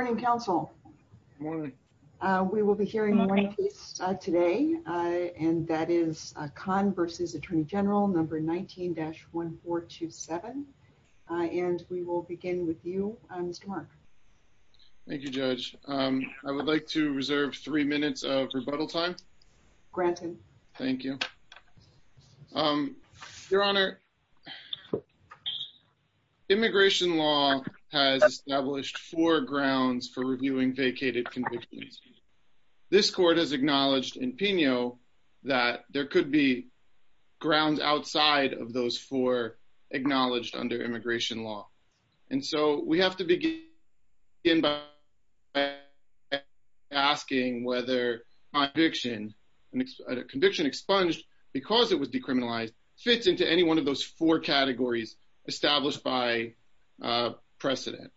Good morning, counsel. We will be hearing one piece today, and that is Khan v. Attorney General No. 19-1427, and we will begin with you, Mr. Mark. Thank you, Judge. I would like to reserve three minutes of rebuttal time. Granted. Thank you. Your Honor, immigration law has established four grounds for reviewing vacated convictions. This Court has acknowledged in Peno that there could be grounds outside of those four acknowledged under immigration law. And so we have to begin by asking whether a conviction expunged because it was decriminalized fits into any one of those four categories established by precedent.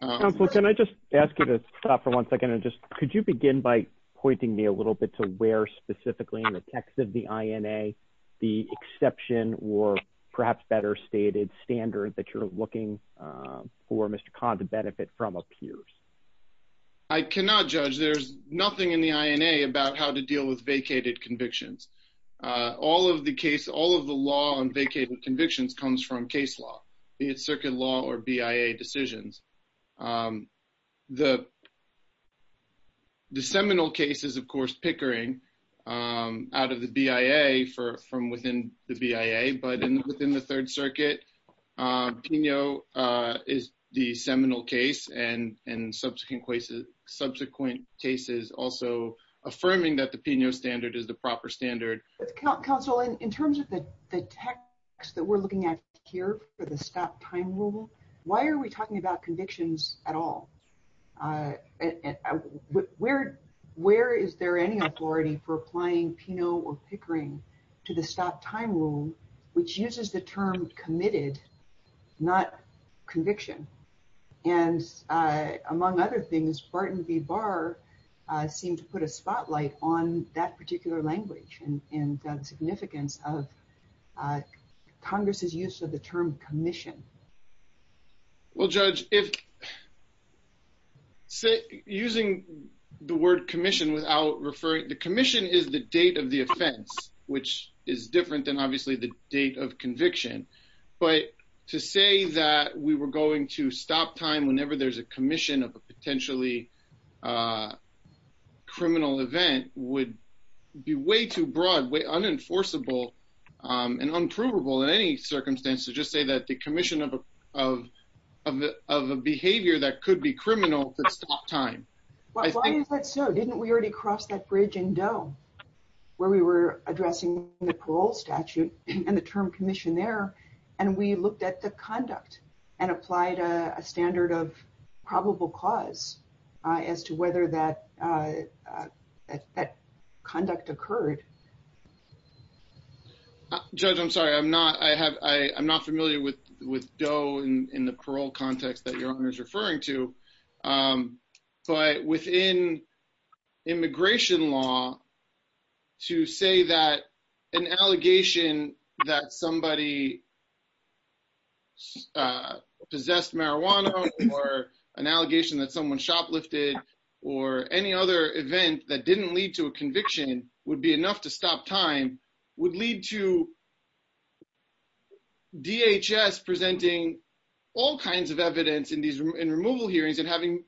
Counsel, can I just ask you to stop for one second? Could you begin by pointing me a little bit to where specifically in the text of the INA the exception or perhaps better stated standard that you're looking for Mr. Khan to benefit from appears? I cannot, Judge. There's nothing in the INA about how to deal with vacated convictions. All of the case, all of the law on vacated convictions comes from case law. It's circuit law or BIA decisions. The seminal case is, of course, Pickering out of the BIA from within the BIA, but within the Third Circuit, Peno is the seminal case and subsequent cases also affirming that the Peno standard is the proper standard. Counsel, in terms of the text that we're looking at here for the stop time rule, why are we talking about convictions at all? Where is there any authority for applying Peno or Pickering to the stop time rule, which uses the term committed, not conviction? And among other things, Barton v. Barr seemed to put a spotlight on that particular language and significance of Congress's use of the term commission. Well, Judge, if using the word commission without referring, the commission is the date of the offense, which is different than obviously the date of conviction. But to say that we were going to stop time whenever there's a commission of a potentially criminal event would be way too broad, way unenforceable and unprovable in any circumstance to just say that the commission of a behavior that could be criminal could stop time. Why is that so? Didn't we already cross that bridge in Doe where we were addressing the parole statute and the term commission there, and we looked at the conduct and applied a standard of probable cause as to whether that conduct occurred? Judge, I'm sorry, I'm not familiar with Doe in the parole context that Your Honor is referring to, but within immigration law to say that an allegation that somebody possessed marijuana or an allegation that someone shoplifted or any other event that didn't lead to a conviction would be enough to stop time would lead to DHS presenting all kinds of evidence in removal hearings and having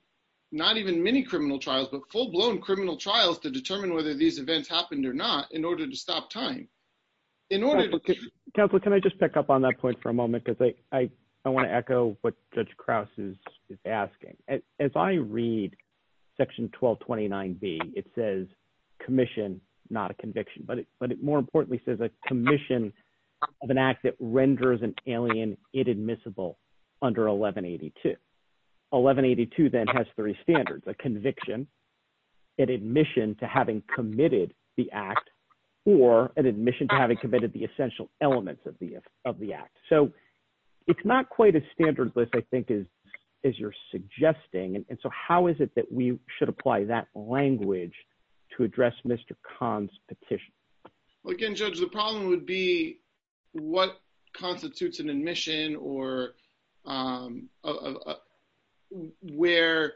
not even many criminal trials, but full-blown criminal trials to determine whether these events happened or not in order to stop time. Counselor, can I just pick up on that point for a moment because I want to echo what Judge Krause is asking. As I read section 1229B, it says commission, not a conviction, but it more importantly says a commission of an act that renders an alien inadmissible under 1182. 1182 then has three standards, a conviction, an admission to having committed the act, or an admission to having committed the essential elements of the act. So it's not quite as standardless, I think, as you're suggesting, and so how is it that we should apply that language to address Mr. Kahn's petition? Again, Judge, the problem would be what constitutes an admission or where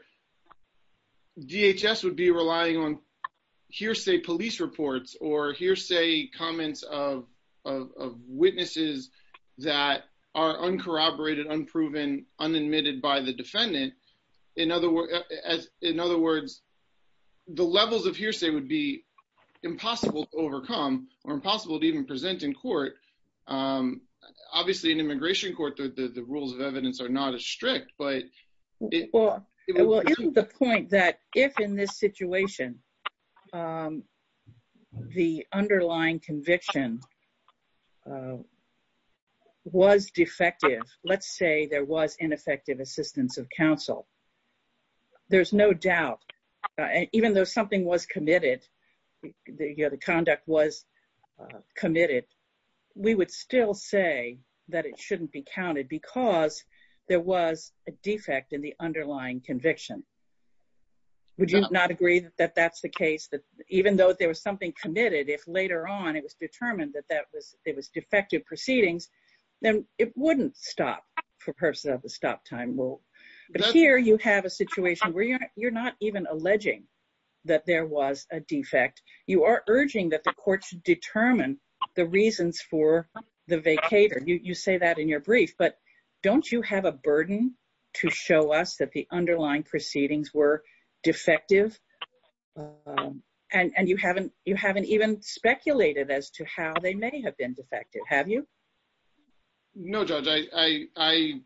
DHS would be relying on hearsay police reports or hearsay comments of witnesses that are uncorroborated, unproven, unadmitted by the defendant. In other words, the levels of hearsay would be impossible to overcome or impossible to even present in court. Obviously, in immigration court, the rules of evidence are not as strict, but... Well, isn't the point that if, in this situation, the underlying conviction was defective, let's say there was ineffective assistance of counsel, there's no doubt, even though something was committed, the conduct was committed, we would still say that it shouldn't be counted because there was a defect in the underlying conviction. Would you not agree that that's the case, that even though there was something committed, if later on it was determined that it was defective proceedings, then it wouldn't stop for purposes of the stop time rule. But here you have a situation where you're not even alleging that there was a defect. You are urging that the court should determine the reasons for the vacator. You say that in your brief, but don't you have a burden to show us that the underlying proceedings were defective? And you haven't even speculated as to how they may have been defective, have you? No, Judge, I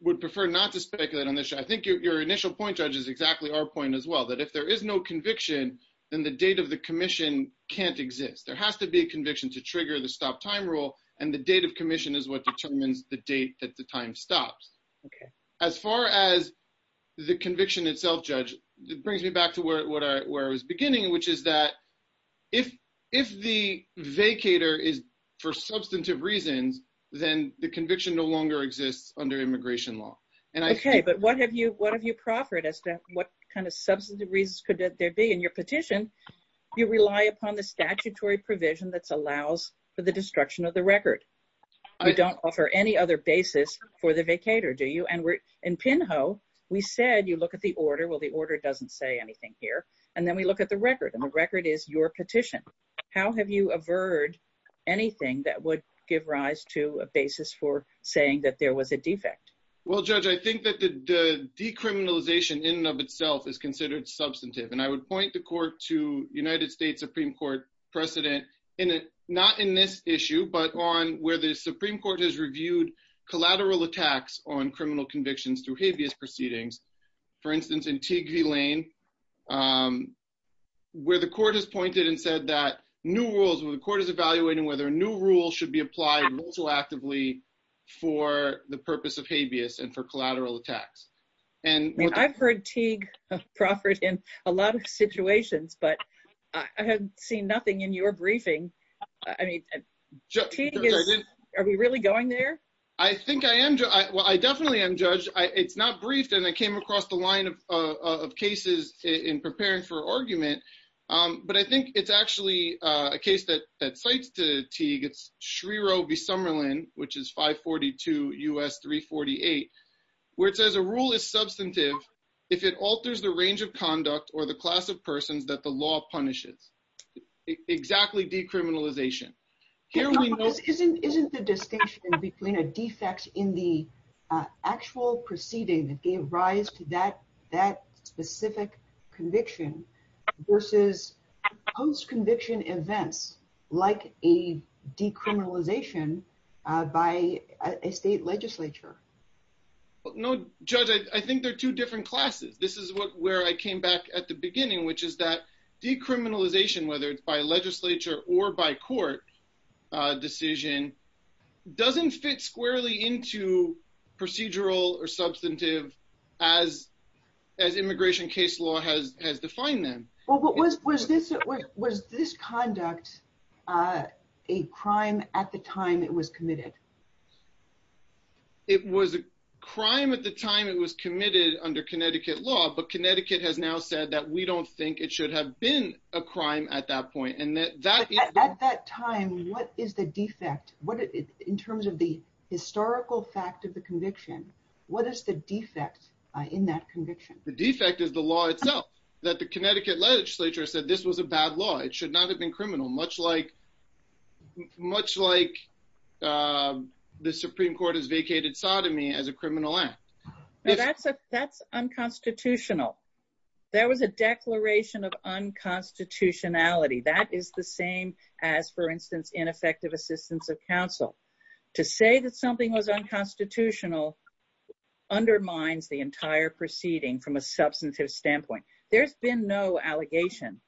would prefer not to speculate on this. I think your initial point, Judge, is exactly our point as well, that if there is no conviction, then the date of the commission can't exist. There has to be a conviction to trigger the stop time rule, and the date of commission is what determines the date that the time stops. As far as the conviction itself, Judge, it brings me back to where I was beginning, which is that if the vacator is for substantive reasons, then the conviction no longer exists under immigration law. Okay, but what have you proffered as to what kind of substantive reasons could there be in your petition? You rely upon the statutory provision that allows for the destruction of the record. You don't offer any other basis for the vacator, do you? And in Pinho, we said you look at the order. Well, the order doesn't say anything here. And then we look at the record, and the record is your petition. How have you averred anything that would give rise to a basis for saying that there was a defect? Judge, I think that the decriminalization in and of itself is considered substantive. And I would point the court to United States Supreme Court precedent, not in this issue, but on where the Supreme Court has reviewed collateral attacks on criminal convictions through habeas proceedings. For instance, in Teague v. Lane, where the court has pointed and said that new rules, where the court is evaluating whether new rules should be applied also actively for the purpose of habeas and for collateral attacks. I've heard Teague proffer it in a lot of situations, but I haven't seen nothing in your briefing. I mean, are we really going there? I think I am. Well, I definitely am, Judge. It's not briefed, and I came across the line of cases in preparing for argument. But I think it's actually a case that cites Teague. It's Shriro v. Summerlin, which is 542 U.S. 348, where it says a rule is substantive if it alters the range of conduct or the class of persons that the law punishes. Exactly decriminalization. Isn't the distinction between a defect in the actual proceeding that gave rise to that specific conviction versus post-conviction events like a decriminalization by a state legislature? No, Judge. I think they're two different classes. This is where I came back at the beginning, which is that decriminalization, whether it's by legislature or by court decision, doesn't fit squarely into procedural or substantive as immigration case law has defined them. Was this conduct a crime at the time it was committed? It was a crime at the time it was committed under Connecticut law, but Connecticut has now said that we don't think it should have been a crime at that point. At that time, what is the defect? In terms of the historical fact of the conviction, what is the defect in that conviction? The defect is the law itself, that the Connecticut legislature said this was a bad law. It should not have been criminal, much like the Supreme Court has vacated sodomy as a criminal act. That's unconstitutional. There was a declaration of unconstitutionality. That is the same as, for instance, ineffective assistance of counsel. To say that something was unconstitutional undermines the entire proceeding from a substantive standpoint. There's been no allegation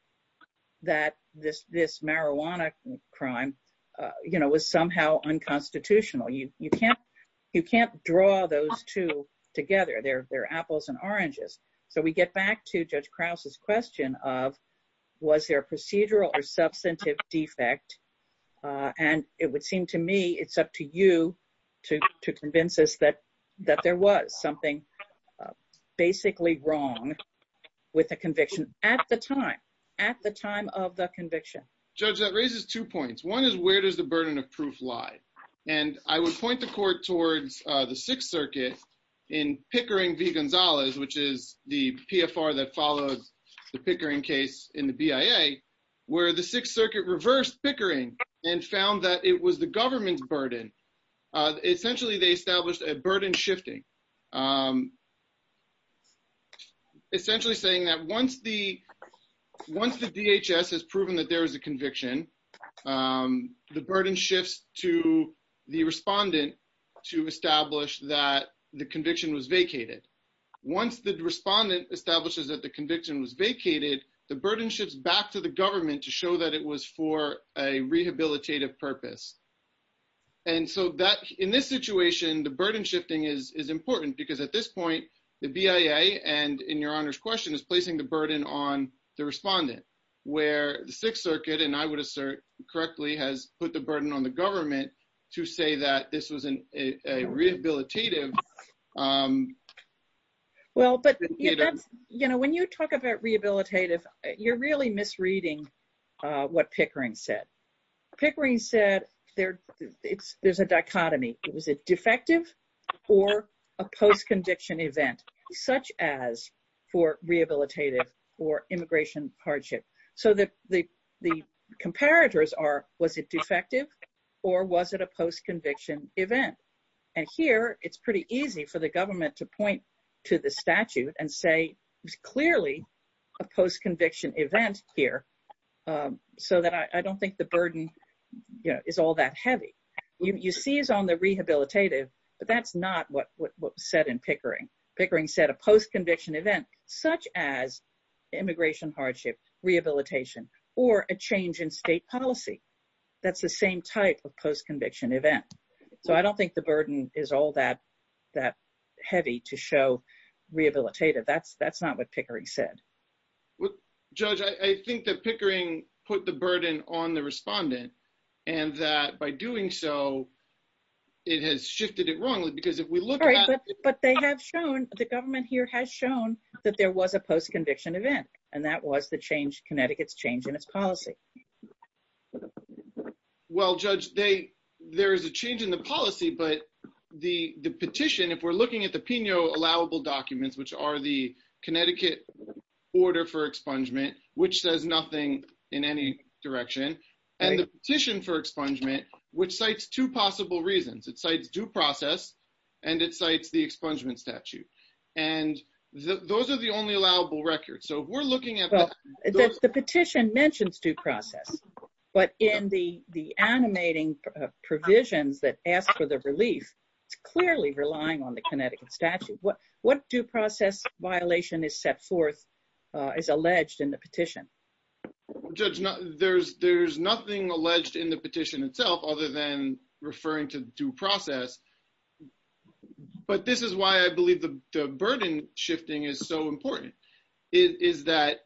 that this marijuana crime was somehow unconstitutional. You can't draw those two together. They're apples and oranges. We get back to Judge Krause's question of, was there a procedural or substantive defect? It would seem to me it's up to you to convince us that there was something basically wrong with the conviction at the time of the conviction. Judge, that raises two points. One is, where does the burden of proof lie? I would point the court towards the Sixth Circuit in Pickering v. Gonzalez, which is the PFR that follows the Pickering case in the BIA, where the Sixth Circuit reversed Pickering and found that it was the government's burden. Essentially, they established a burden shifting, essentially saying that once the DHS has proven that there is a conviction, the burden shifts to the respondent to establish that the conviction was vacated. Once the respondent establishes that the conviction was vacated, the burden shifts back to the government to show that it was for a rehabilitative purpose. In this situation, the burden shifting is important because at this point, the BIA, and in Your Honor's question, is placing the burden on the respondent, where the Sixth Circuit, and I would assert correctly, has put the burden on the government to say that this was rehabilitative. When you talk about rehabilitative, you're really misreading what Pickering said. Pickering said there's a dichotomy. Was it defective or a post-conviction event, such as for rehabilitative or immigration hardship? The comparators are, was it defective or was it a post-conviction event? Here, it's pretty easy for the government to point to the statute and say, it's clearly a post-conviction event here, so that I don't think the burden is all that heavy. You seize on the rehabilitative, but that's not what was said in Pickering. Pickering said a post-conviction event, such as immigration hardship, rehabilitation, or a change in state policy, that's the same type of post-conviction event. So I don't think the burden is all that heavy to show rehabilitative. That's not what Pickering said. Judge, I think that Pickering put the burden on the respondent, and that by doing so, it has shifted it wrongly, because if we look at- But they have shown, the government here has shown that there was a post-conviction event, and that was the change, Connecticut's change in its policy. Well, Judge, there is a change in the policy, but the petition, if we're looking at the PINO allowable documents, which are the Connecticut order for expungement, which says nothing in any direction, and the petition for expungement, which cites two possible reasons. It cites due process, and it cites the expungement statute. And those are the only allowable records. So if we're looking at- The petition mentions due process, but in the animating provisions that ask for the relief, it's clearly relying on the Connecticut statute. What due process violation is set forth, is alleged in the petition? Judge, there's nothing alleged in the petition itself, other than referring to due process. But this is why I believe the burden shifting is so important, is that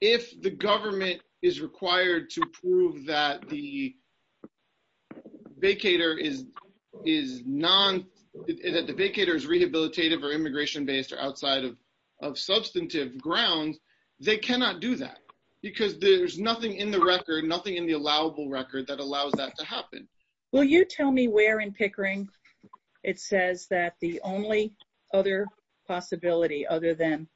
if the government is required to prove that the vacator is non- If the vacator is rehabilitative or immigration-based or outside of substantive grounds, they cannot do that, because there's nothing in the record, nothing in the allowable record, that allows that to happen. Will you tell me where in Pickering it says that the only other possibility, other than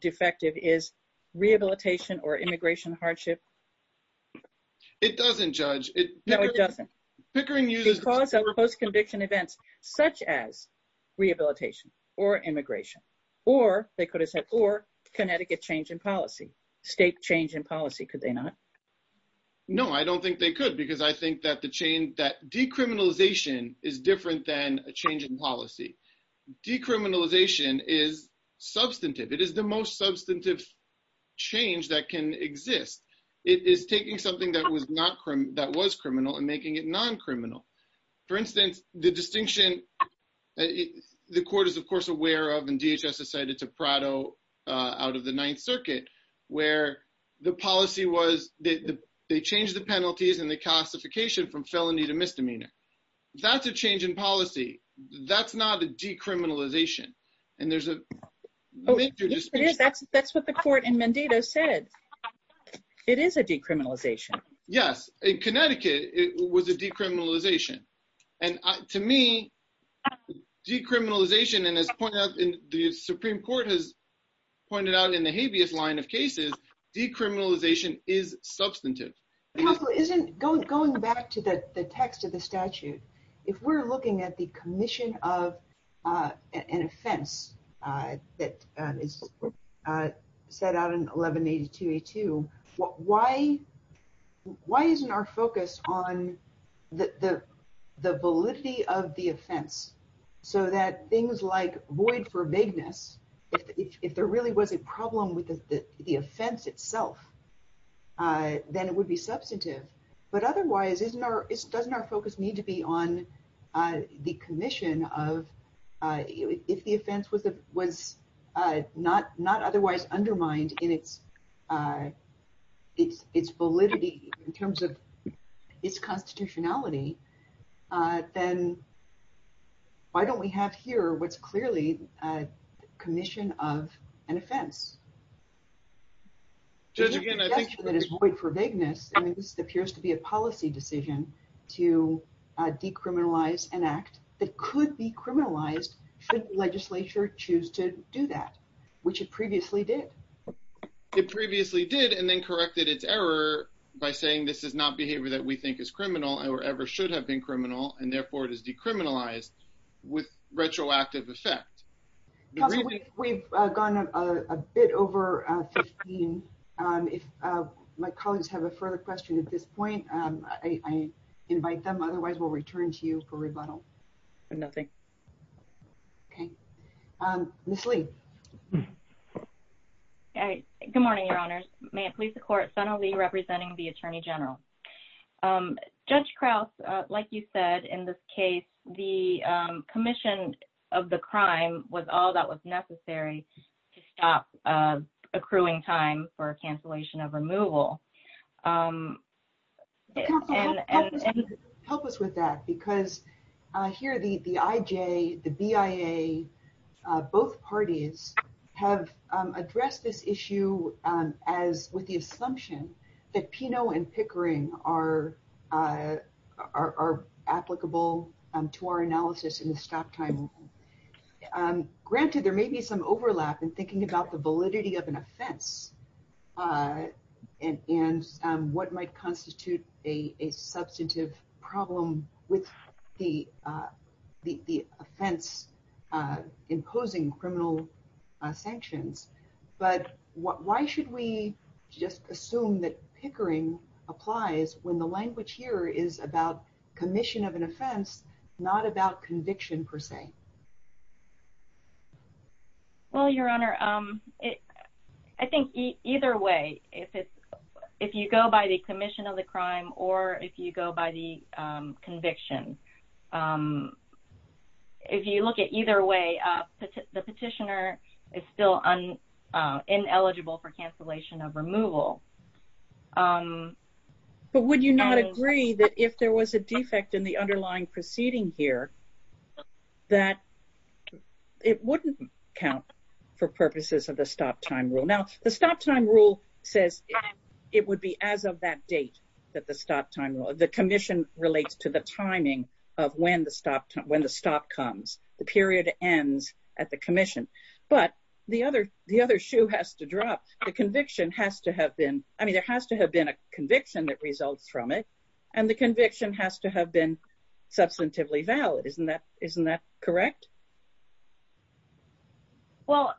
defective, is rehabilitation or immigration hardship? It doesn't, Judge. No, it doesn't. Pickering uses- Because of post-conviction events, such as rehabilitation or immigration, or they could have said, or Connecticut change in policy, state change in policy, could they not? No, I don't think they could, because I think that decriminalization is different than a change in policy. Decriminalization is substantive. It is the most substantive change that can exist. It is taking something that was criminal and making it non-criminal. For instance, the distinction the court is, of course, aware of, and DHS has said it's a Prado out of the Ninth Circuit, where the policy was, they changed the penalties and the classification from felony to misdemeanor. That's a change in policy. That's not a decriminalization. And there's a- Yes, it is. That's what the court in Mendito said. It is a decriminalization. Yes. In Connecticut, it was a decriminalization. And to me, decriminalization, and as the Supreme Court has pointed out in the habeas line of cases, decriminalization is substantive. Counsel, isn't, going back to the text of the statute, if we're looking at the commission of an offense that is set out in 1182A2, why isn't our focus on the validity of the offense? So that things like void for vagueness, if there really was a problem with the offense itself, then it would be substantive. But otherwise, doesn't our focus need to be on the commission of, if the offense was not otherwise undermined in its validity in terms of its constitutionality, then why don't we have here what's clearly a commission of an offense? Judge, again, I think- That is void for vagueness. I mean, this appears to be a policy decision to decriminalize an act that could be criminalized should legislature choose to do that, which it previously did. It previously did, and then corrected its error by saying this is not behavior that we think is criminal or ever should have been criminal, and therefore it is decriminalized with retroactive effect. Counsel, we've gone a bit over 15. If my colleagues have a further question at this point, I invite them. Otherwise, we'll return to you for rebuttal. Nothing. Okay. Ms. Lee. Good morning, Your Honors. May it please the Court, Senator Lee representing the Attorney General. Judge Krause, like you said, in this case, the commission of the crime was all that was necessary to stop accruing time for cancellation of removal. Counsel, help us with that. Because here, the IJ, the BIA, both parties have addressed this issue with the assumption that PINO and Pickering are applicable to our analysis in the stop time. Granted, there may be some overlap in thinking about the validity of an offense and what might constitute a substantive problem with the offense imposing criminal sanctions. But why should we just assume that Pickering applies when the language here is about commission of an offense, not about conviction, per se? Well, Your Honor, I think either way, if you go by the commission of the crime or if you go by the conviction, if you look at either way, the petitioner is still ineligible for cancellation of removal. But would you not agree that if there was a defect in the underlying proceeding here, that it wouldn't count for purposes of the stop time rule? Now, the stop time rule says it would be as of that date that the stop time rule, the commission relates to the timing of when the stop comes, the period ends at the commission. But the other shoe has to drop. The conviction has to have been, I mean, there has to have been a conviction that results from it, and the conviction has to have been substantively valid. Isn't that correct? Well,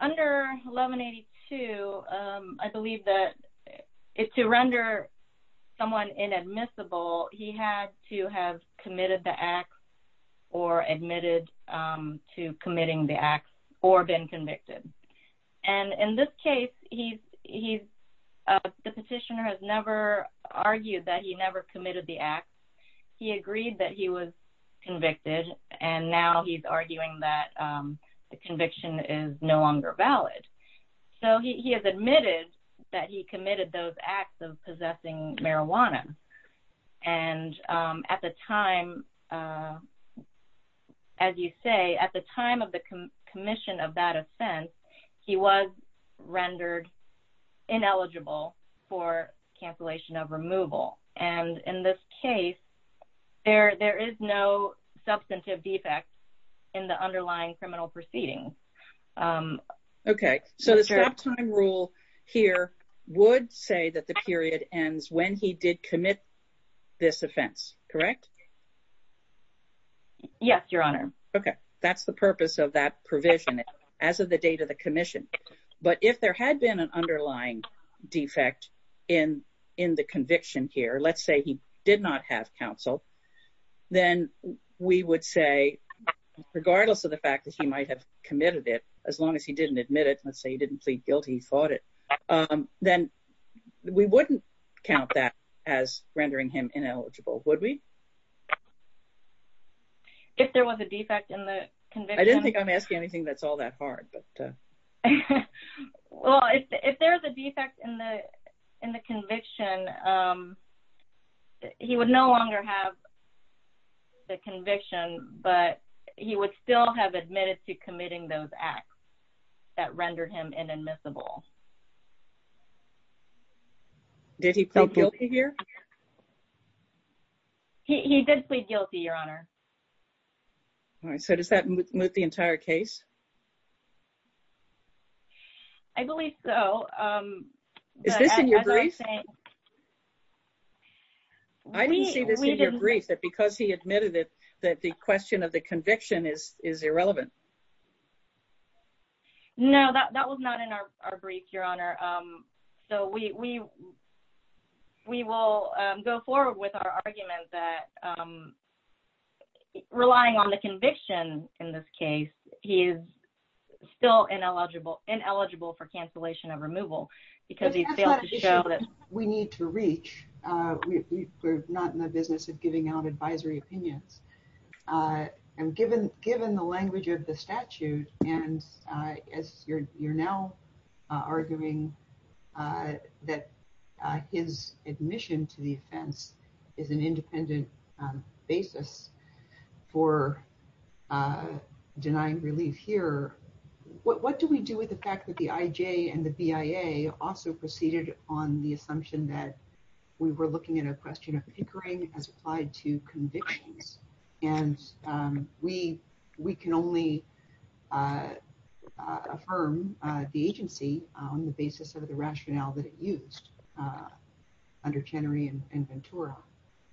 under 1182, I believe that to render someone inadmissible, he had to have committed the act or admitted to committing the act or been convicted. And in this case, the petitioner has never argued that he never committed the act. He agreed that he was convicted, and now he's arguing that the conviction is no longer valid. So he has admitted that he committed those acts of possessing marijuana. And at the time, as you say, at the time of the commission of that offense, he was rendered ineligible for cancellation of removal. And in this case, there is no substantive defect in the underlying criminal proceeding. OK, so the stop time rule here would say that the period ends when he did commit this offense, correct? Yes, Your Honor. That's the purpose of that provision as of the date of the commission. But if there had been an underlying defect in the conviction here, let's say he did not have counsel, then we would say, regardless of the fact that he might have committed it, as long as he didn't admit it, let's say he didn't plead guilty, he fought it, then we wouldn't count that as rendering him ineligible, would we? If there was a defect in the conviction? I didn't think I'm asking anything that's all that hard. Well, if there's a defect in the conviction, he would no longer have the conviction, but he would still have admitted to committing those acts that rendered him inadmissible. Did he plead guilty here? He did plead guilty, Your Honor. All right, so does that move the entire case? I believe so. Is this in your brief? I didn't see this in your brief, that because he admitted it, that the question of the conviction is irrelevant. No, that was not in our brief, Your Honor. So we will go forward with our argument that relying on the conviction in this case, he is still ineligible for cancellation of removal because he failed to show that... We're not in the business of giving out advisory opinions. And given the language of the statute, and as you're now arguing that his admission to the offense is an independent basis for denying relief here, what do we do with the fact that the IJ and the BIA also proceeded on the assumption that we were looking at a question of hickering as applied to convictions? And we can only affirm the agency on the basis of the rationale that it used under Chenery and Ventura.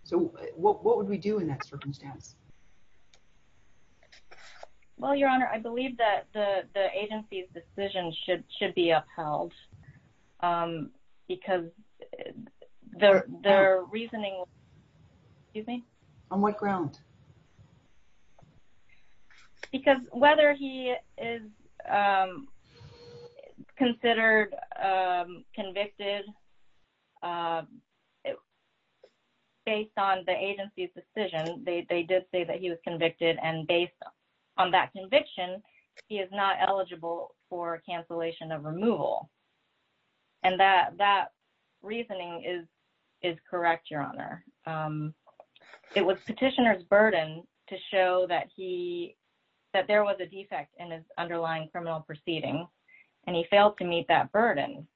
So what would we do in that circumstance? Well, Your Honor, I believe that the agency's decision should be upheld because their reasoning... Excuse me? On what ground? Because whether he is considered convicted based on the agency's decision, they did say that he was convicted, and based on that conviction, he is not eligible for cancellation of removal. And that reasoning is correct, Your Honor. It was petitioner's burden to show that there was a defect in his underlying criminal proceedings, and he failed to meet that burden.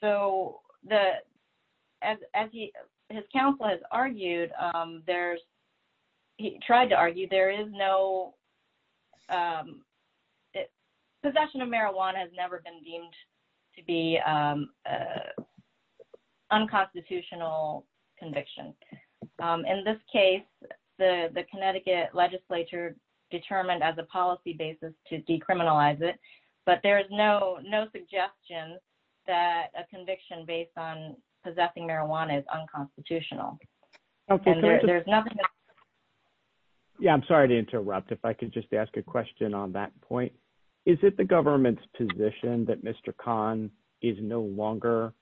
So, as his counsel has argued, there's... He tried to argue there is no... Possession of marijuana has never been deemed to be unconstitutional conviction. In this case, the Connecticut legislature determined as a policy basis to decriminalize it, but there is no suggestion that a conviction based on possessing marijuana is unconstitutional. And there's nothing... Yeah, I'm sorry to interrupt. If I could just ask a question on that point. Is it the government's position that Mr. Khan is no longer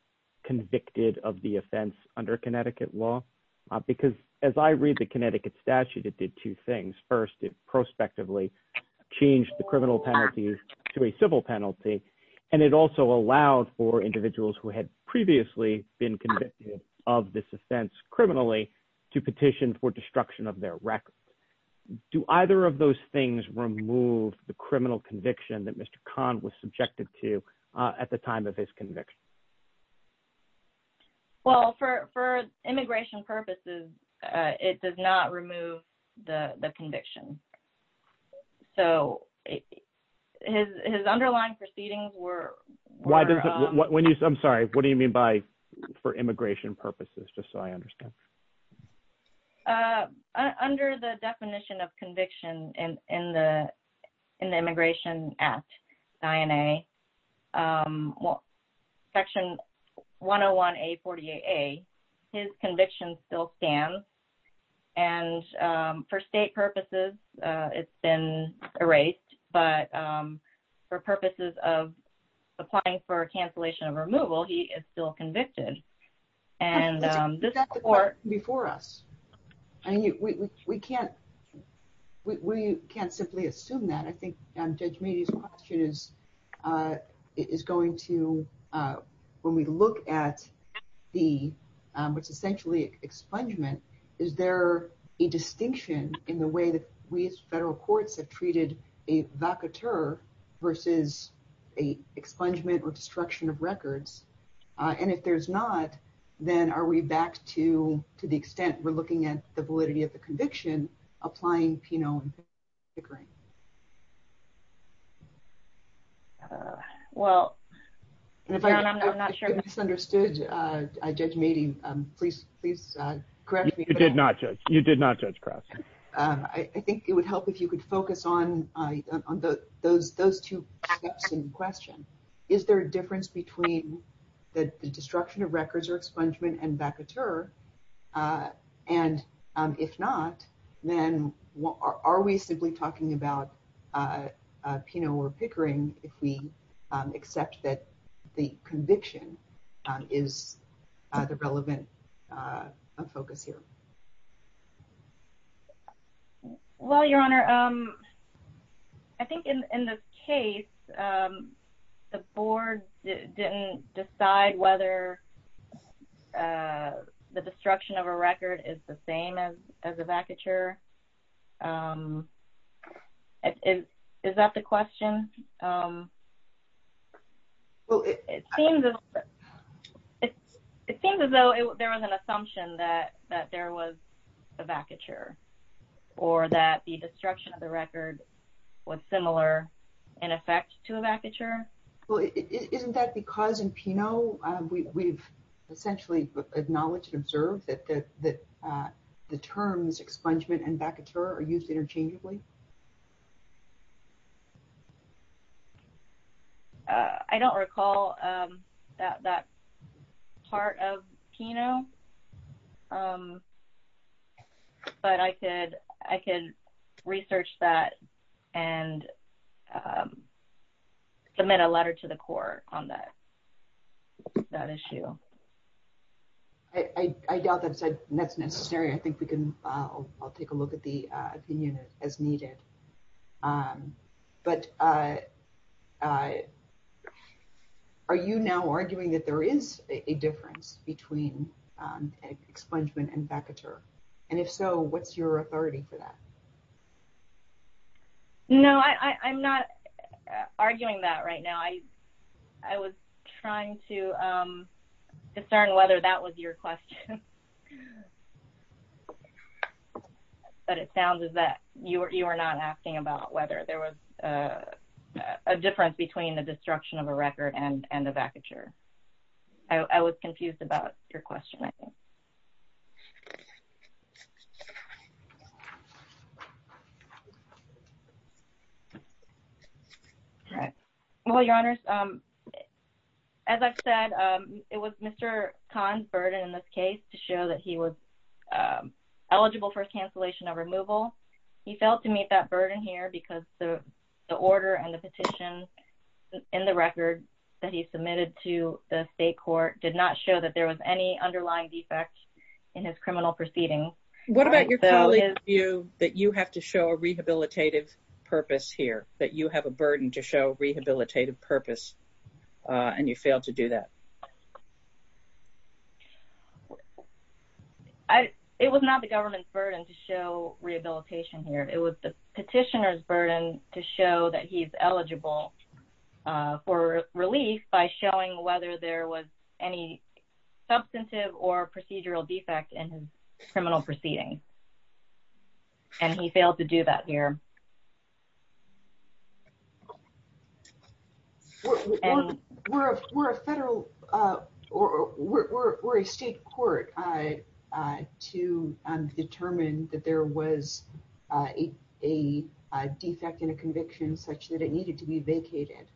convicted of the offense under Connecticut law? Because as I read the Connecticut statute, it did two things. First, it prospectively changed the criminal penalty to a civil penalty, and it also allowed for individuals who had previously been convicted of this offense criminally to petition for destruction of their record. Do either of those things remove the criminal conviction that Mr. Khan was subjected to at the time of his conviction? Well, for immigration purposes, it does not remove the conviction. So, his underlying proceedings were... I'm sorry, what do you mean by for immigration purposes, just so I understand? Under the definition of conviction in the Immigration Act, section 101A48A, his conviction still stands. And for state purposes, it's been erased, but for purposes of applying for cancellation of removal, he is still convicted. But isn't that the court before us? We can't simply assume that. I think Judge Meade's question is going to... When we look at what's essentially expungement, is there a distinction in the way that we as federal courts have treated a vacateur versus a expungement or destruction of records? And if there's not, then are we back to the extent we're looking at the validity of the conviction, applying Peno and Pickering? Well, I'm not sure... If I misunderstood Judge Meade, please correct me. You did not, Judge. You did not, Judge Krause. I think it would help if you could focus on those two steps in question. Is there a difference between the destruction of records or expungement and vacateur? And if not, then are we simply talking about Peno or Pickering if we accept that the conviction is the relevant focus here? Well, Your Honor, I think in this case, the board didn't decide whether the destruction of a record is the same as a vacateur. Is that the question? It seems as though there was an assumption that there was a vacateur or that the destruction of the record was similar in effect to a vacateur. Well, isn't that because in Peno, we've essentially acknowledged and observed that the terms expungement and vacateur are used interchangeably? I don't recall that part of Peno, but I could research that and submit a letter to the court on that issue. I doubt that's necessary. I'll take a look at the opinion as needed. But are you now arguing that there is a difference between expungement and vacateur? And if so, what's your authority for that? No, I'm not arguing that right now. I was trying to discern whether that was your question. But it sounds as though you were not asking about whether there was a difference between the destruction of a record and a vacateur. I was confused about your question. Well, Your Honors, as I've said, it was Mr. Kahn's burden in this case to show that he was eligible for cancellation of removal. He failed to meet that burden here because the order and the petition in the record that he submitted to the state court did not show that there was any underlying defect in his criminal proceedings. What about your colleague's view that you have to show a rehabilitative purpose here, that you have a burden to show rehabilitative purpose, and you failed to do that? It was not the government's burden to show rehabilitation here. It was the petitioner's burden to show that he's eligible for relief by showing whether there was any substantive or procedural defect in his criminal proceedings. And he failed to do that here. We're a federal or we're a state court to determine that there was a defect in a conviction such that it needed to be vacated.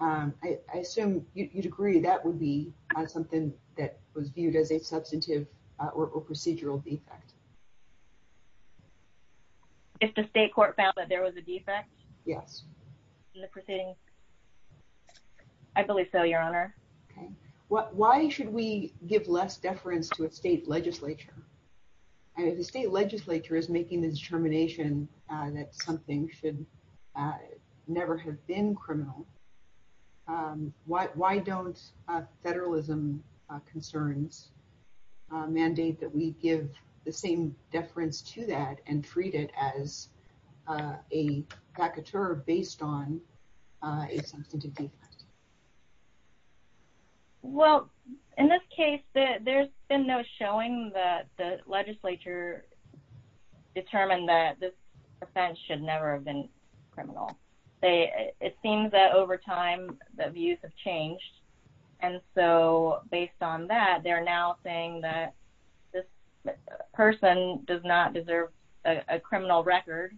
I assume you'd agree that would be something that was viewed as a substantive or procedural defect. If the state court found that there was a defect? Yes. In the proceedings? I believe so, Your Honor. Why should we give less deference to a state legislature? If the state legislature is making the determination that something should never have been criminal, why don't federalism concerns mandate that we give the same deference to that and treat it as a vacateur based on a substantive defect? Well, in this case, there's been no showing that the legislature determined that this offense should never have been criminal. It seems that over time, the views have changed. And so based on that, they're now saying that this person does not deserve a criminal record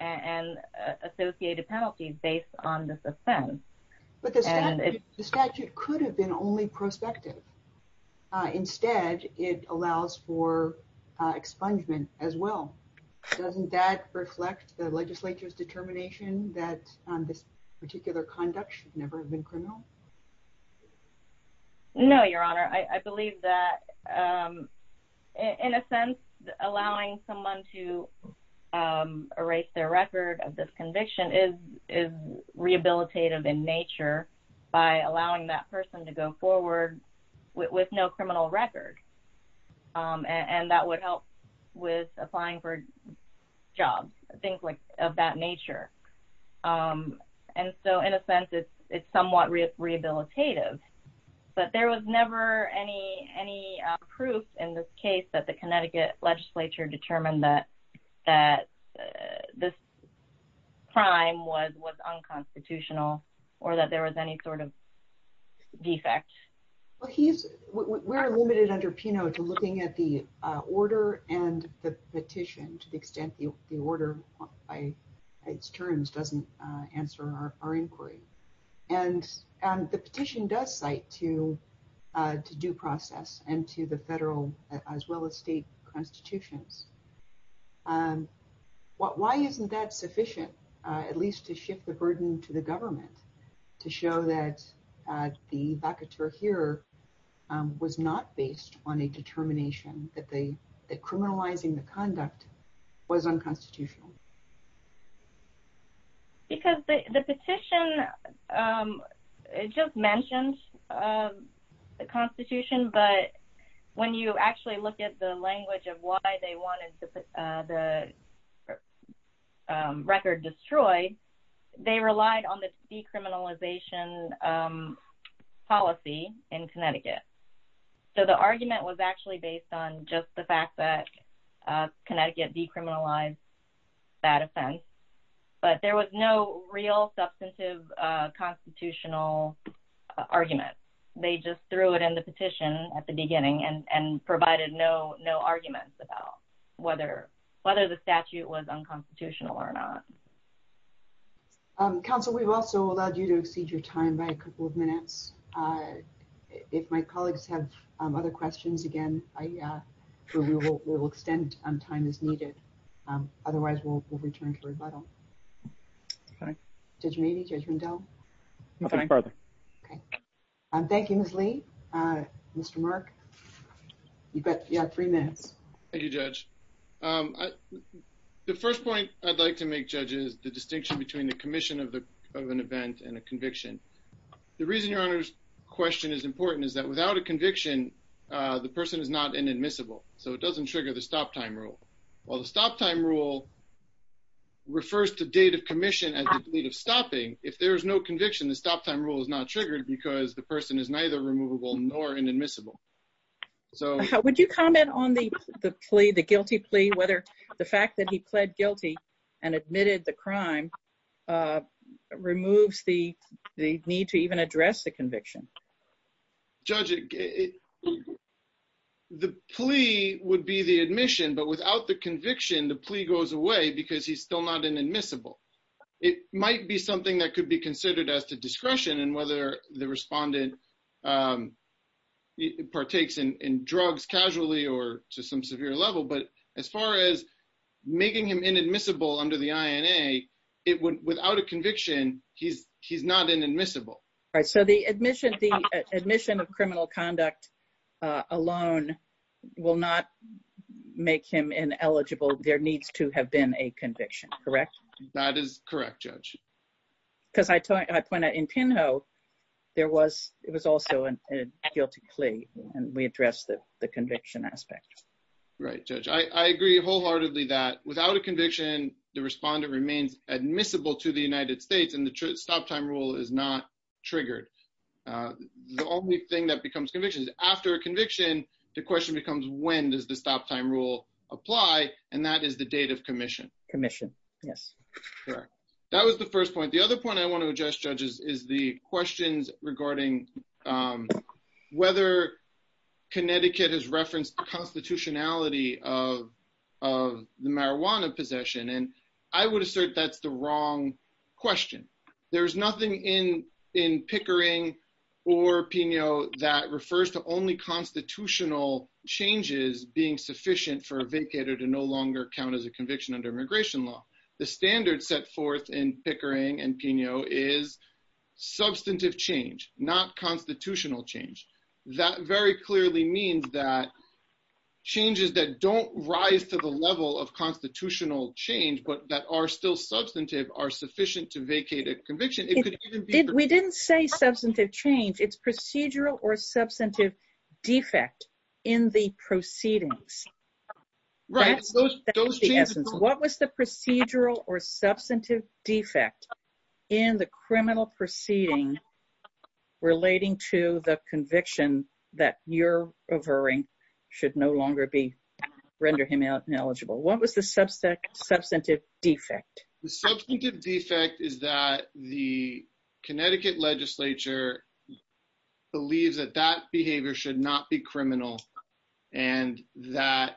and associated penalties based on this offense. But the statute could have been only prospective. Instead, it allows for expungement as well. Doesn't that reflect the legislature's determination that this particular conduct should never have been criminal? No, Your Honor. I believe that in a sense, allowing someone to erase their record of this conviction is rehabilitative in nature by allowing that person to go forward with no criminal record. And that would help with applying for jobs, things of that nature. And so in a sense, it's somewhat rehabilitative. But there was never any proof in this case that the Connecticut legislature determined that this crime was unconstitutional or that there was any sort of defect. Well, we're limited under Peno to looking at the order and the petition to the extent the order by its terms doesn't answer our inquiry. And the petition does cite to due process and to the federal as well as state constitutions. Why isn't that sufficient, at least to shift the burden to the government to show that the vacateur here was not based on a determination that criminalizing the conduct was unconstitutional? Because the petition just mentioned the Constitution, but when you actually look at the language of why they wanted the record destroyed, they relied on the decriminalization policy in Connecticut. So the argument was actually based on just the fact that Connecticut decriminalized that offense. But there was no real substantive constitutional argument. They just threw it in the petition at the beginning and provided no arguments about whether the statute was unconstitutional or not. Counsel, we've also allowed you to exceed your time by a couple of minutes. If my colleagues have other questions, again, we will extend time as needed. Otherwise, we'll return to rebuttal. Judge Mabee, Judge Rendell? Nothing further. Thank you, Ms. Lee. Mr. Mark? You've got three minutes. Thank you, Judge. The first point I'd like to make, Judge, is the distinction between the commission of an event and a conviction. The reason your Honor's question is important is that without a conviction, the person is not inadmissible. So it doesn't trigger the stop-time rule. While the stop-time rule refers to date of commission as the date of stopping, if there is no conviction, the stop-time rule is not triggered because the person is neither removable nor inadmissible. Would you comment on the plea, the guilty plea, whether the fact that he pled guilty and admitted the crime removes the need to even address the conviction? Judge, the plea would be the admission, but without the conviction, the plea goes away because he's still not inadmissible. It might be something that could be considered as to discretion and whether the respondent partakes in drugs casually or to some severe level, but as far as making him inadmissible under the INA, without a conviction, he's not inadmissible. All right. So the admission of criminal conduct alone will not make him ineligible. There needs to have been a conviction, correct? That is correct, Judge. Because I point out, in Pinho, it was also a guilty plea, and we addressed the conviction aspect. Right, Judge. I agree wholeheartedly that without a conviction, the respondent remains admissible to the United States and the stop-time rule is not triggered. The only thing that becomes conviction is after a conviction, the question becomes when does the stop-time rule apply, and that is the date of commission. Commission, yes. Correct. That was the first point. The other point I want to address, Judge, is the questions regarding whether Connecticut has referenced the constitutionality of the marijuana possession, and I would assert that's the wrong question. There's nothing in Pickering or Pinho that refers to only constitutional changes being sufficient for a vacator to no longer count as a conviction under immigration law. The standard set forth in Pickering and Pinho is substantive change, not constitutional change. That very clearly means that changes that don't rise to the level of constitutional change but that are still substantive are sufficient to vacate a conviction. We didn't say substantive change. It's procedural or substantive defect in the proceedings. Right. What was the procedural or substantive defect in the criminal proceeding relating to the conviction that you're averring should no longer render him ineligible? What was the substantive defect? The substantive defect is that the Connecticut legislature believes that that behavior should not be criminal and that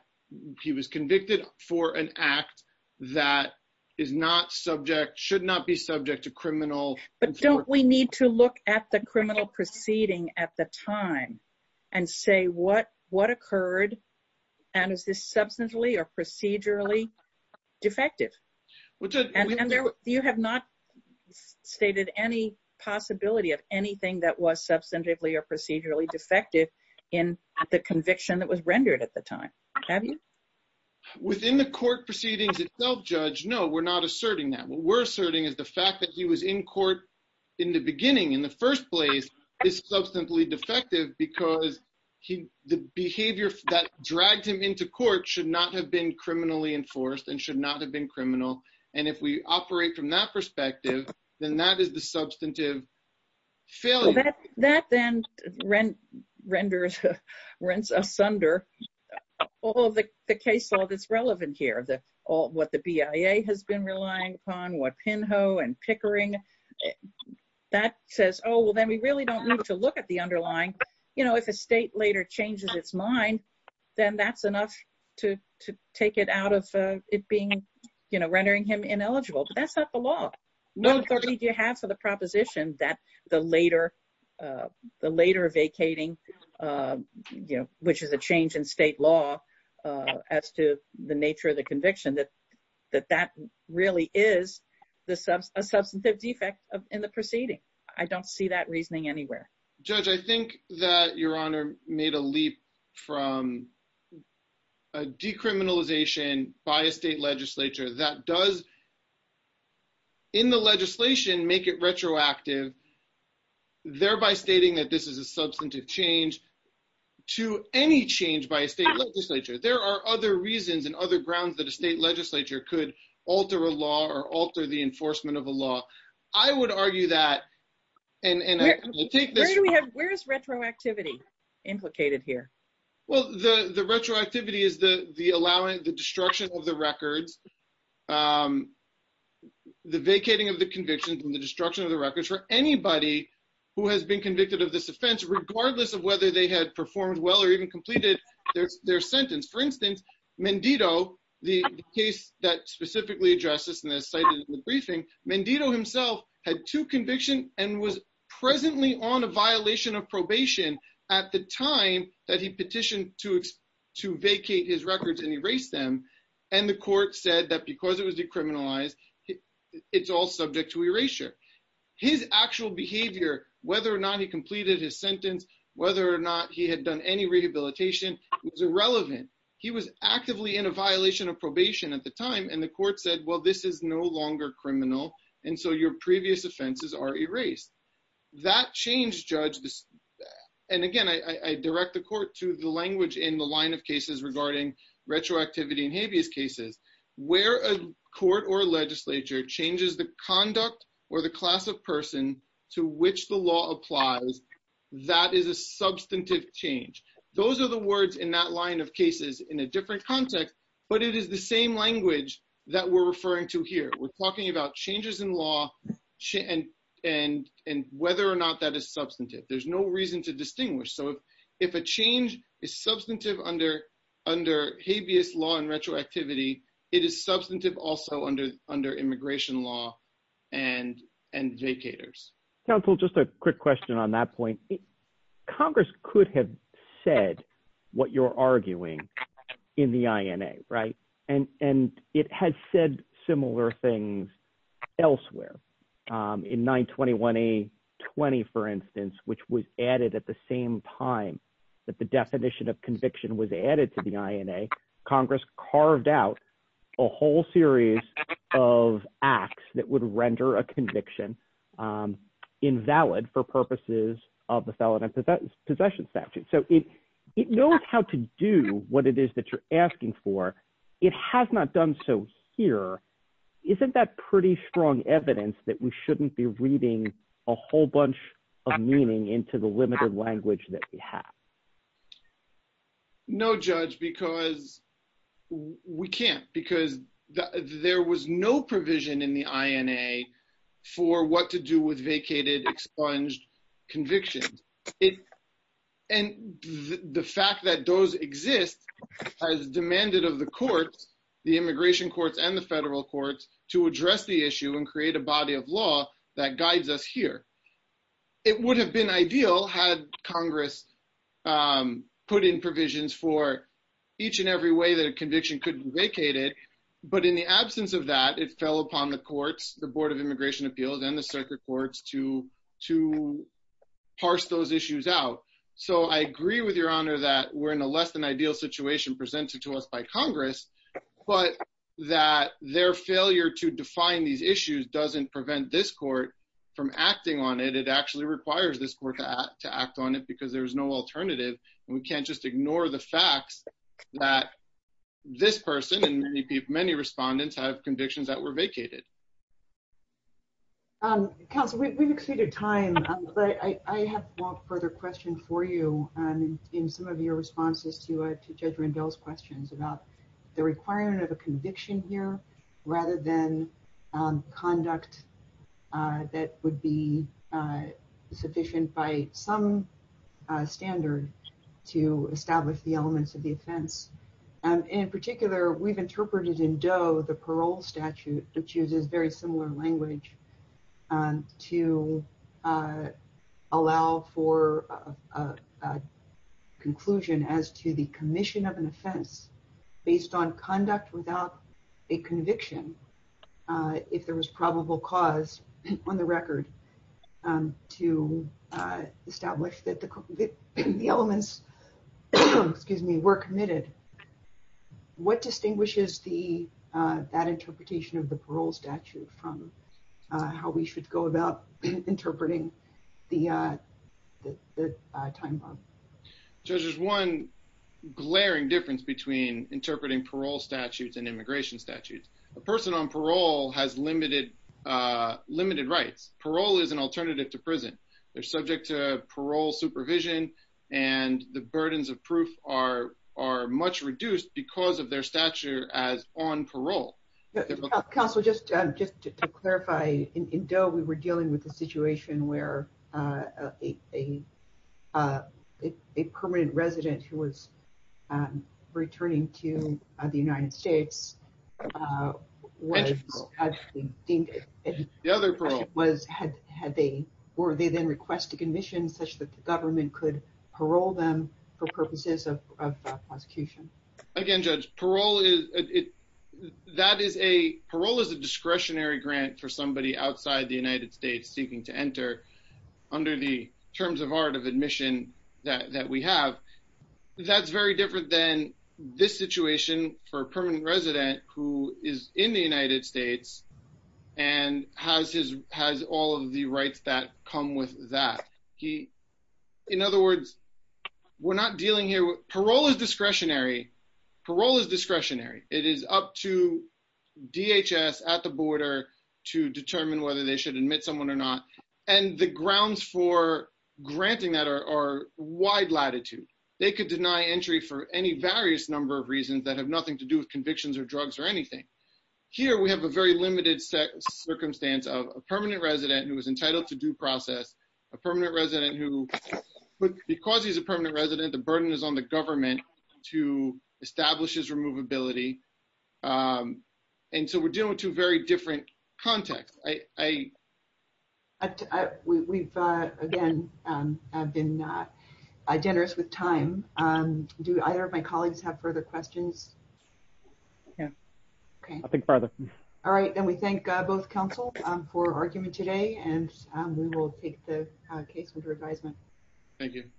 he was convicted for an act that is not subject, should not be subject to criminal. But don't we need to look at the criminal proceeding at the time and say what occurred, and is this substantially or procedurally defective? You have not stated any possibility of anything that was substantively or procedurally defective in the conviction that was rendered at the time, have you? Within the court proceedings itself, Judge, no, we're not asserting that. What we're asserting is the fact that he was in court in the beginning, in the first place, is substantively defective because the behavior that dragged him into court should not have been criminally enforced and should not have been criminal. And if we operate from that perspective, then that is the substantive failure. That then renders us under all of the case law that's relevant here, what the BIA has been relying upon, what Pinho and Pickering, that says, oh, well, then we really don't need to look at the underlying. If a state later changes its mind, then that's enough to take it out of it being, rendering him ineligible, but that's not the law. What authority do you have for the proposition that the later vacating, which is a change in state law as to the nature of the conviction, that that really is a substantive defect in the proceeding? I don't see that reasoning anywhere. Judge, I think that Your Honor made a leap from a decriminalization by a state legislature that does, in the legislation, make it retroactive, thereby stating that this is a substantive change to any change by a state legislature. There are other reasons and other grounds that a state legislature could alter a law or alter the enforcement of a law. I would argue that. Where is retroactivity implicated here? Well, the retroactivity is the destruction of the records, the vacating of the convictions and the destruction of the records for anybody who has been convicted of this offense, regardless of whether they had performed well or even completed their sentence. For instance, Mendito, the case that specifically addressed this and is cited in the briefing, Mendito himself had two convictions and was presently on a violation of probation at the time that he petitioned to vacate his records and erase them. And the court said that because it was decriminalized, it's all subject to erasure. His actual behavior, whether or not he completed his sentence, whether or not he had done any rehabilitation, was irrelevant. He was actively in a violation of probation at the time, and the court said, well, this is no longer criminal, and so your previous offenses are erased. That change, Judge, and again, I direct the court to the language in the line of cases regarding retroactivity and habeas cases, where a court or legislature changes the conduct or the class of person to which the law applies, that is a substantive change. Those are the words in that line of cases in a different context, but it is the same language that we're referring to here. We're talking about changes in law and whether or not that is substantive. There's no reason to distinguish. So if a change is substantive under habeas law and retroactivity, it is substantive also under immigration law and vacators. Counsel, just a quick question on that point. Congress could have said what you're arguing in the INA, right? And it has said similar things elsewhere. In 921A20, for instance, which was added at the same time that the definition of conviction was added to the INA, Congress carved out a whole series of acts that would render a conviction invalid for purposes of the felon and possession statute. So it knows how to do what it is that you're asking for. It has not done so here. Isn't that pretty strong evidence that we shouldn't be reading a whole bunch of meaning into the limited language that we have? No, Judge, because we can't. Because there was no provision in the INA for what to do with vacated, expunged convictions. And the fact that those exist has demanded of the courts, the immigration courts and the federal courts, to address the issue and create a body of law that guides us here. It would have been ideal had Congress put in provisions for each and every way that a conviction could be vacated. But in the absence of that, it fell upon the courts, the Board of Immigration Appeals and the circuit courts to parse those issues out. So I agree with Your Honor that we're in a less than ideal situation presented to us by Congress, but that their failure to define these issues doesn't prevent this court from acting on it. It actually requires this court to act on it because there is no alternative. And we can't just ignore the facts that this person and many respondents have convictions that were vacated. Counsel, we've exceeded time, but I have one further question for you in some of your responses to Judge Rendell's questions about the requirement of a conviction here rather than conduct that would be sufficient by some standard to establish the elements of the offense. In particular, we've interpreted in Doe the parole statute, which uses very similar language, to allow for a conclusion as to the commission of an offense based on conduct without a conviction, if there was probable cause on the record, to establish that the elements were committed. What distinguishes that interpretation of the parole statute from how we should go about interpreting the time bomb? Judge, there's one glaring difference between interpreting parole statutes and immigration statutes. A person on parole has limited rights. Parole is an alternative to prison. They're subject to parole supervision, and the burdens of proof are much reduced because of their stature as on parole. Counsel, just to clarify, in Doe, we were dealing with a situation where a permanent resident who was returning to the United States was deemed. The other parole. Were they then requested admission such that the government could parole them for purposes of prosecution? Again, Judge, parole is a discretionary grant for somebody outside the United States seeking to enter under the terms of art of admission that we have. That's very different than this situation for a permanent resident who is in the United States and has all of the rights that come with that. In other words, we're not dealing here. Parole is discretionary. Parole is discretionary. It is up to DHS at the border to determine whether they should admit someone or not. And the grounds for granting that are wide latitude. They could deny entry for any various number of reasons that have nothing to do with convictions or drugs or anything. Here, we have a very limited circumstance of a permanent resident who is entitled to due process, a permanent resident who, because he's a permanent resident, the burden is on the government to establish his removability. And so we're dealing with two very different contexts. We've, again, been generous with time. Do either of my colleagues have further questions? Yeah. I'll think further. All right. And we thank both counsel for arguing today and we will take the case for advisement. Thank you.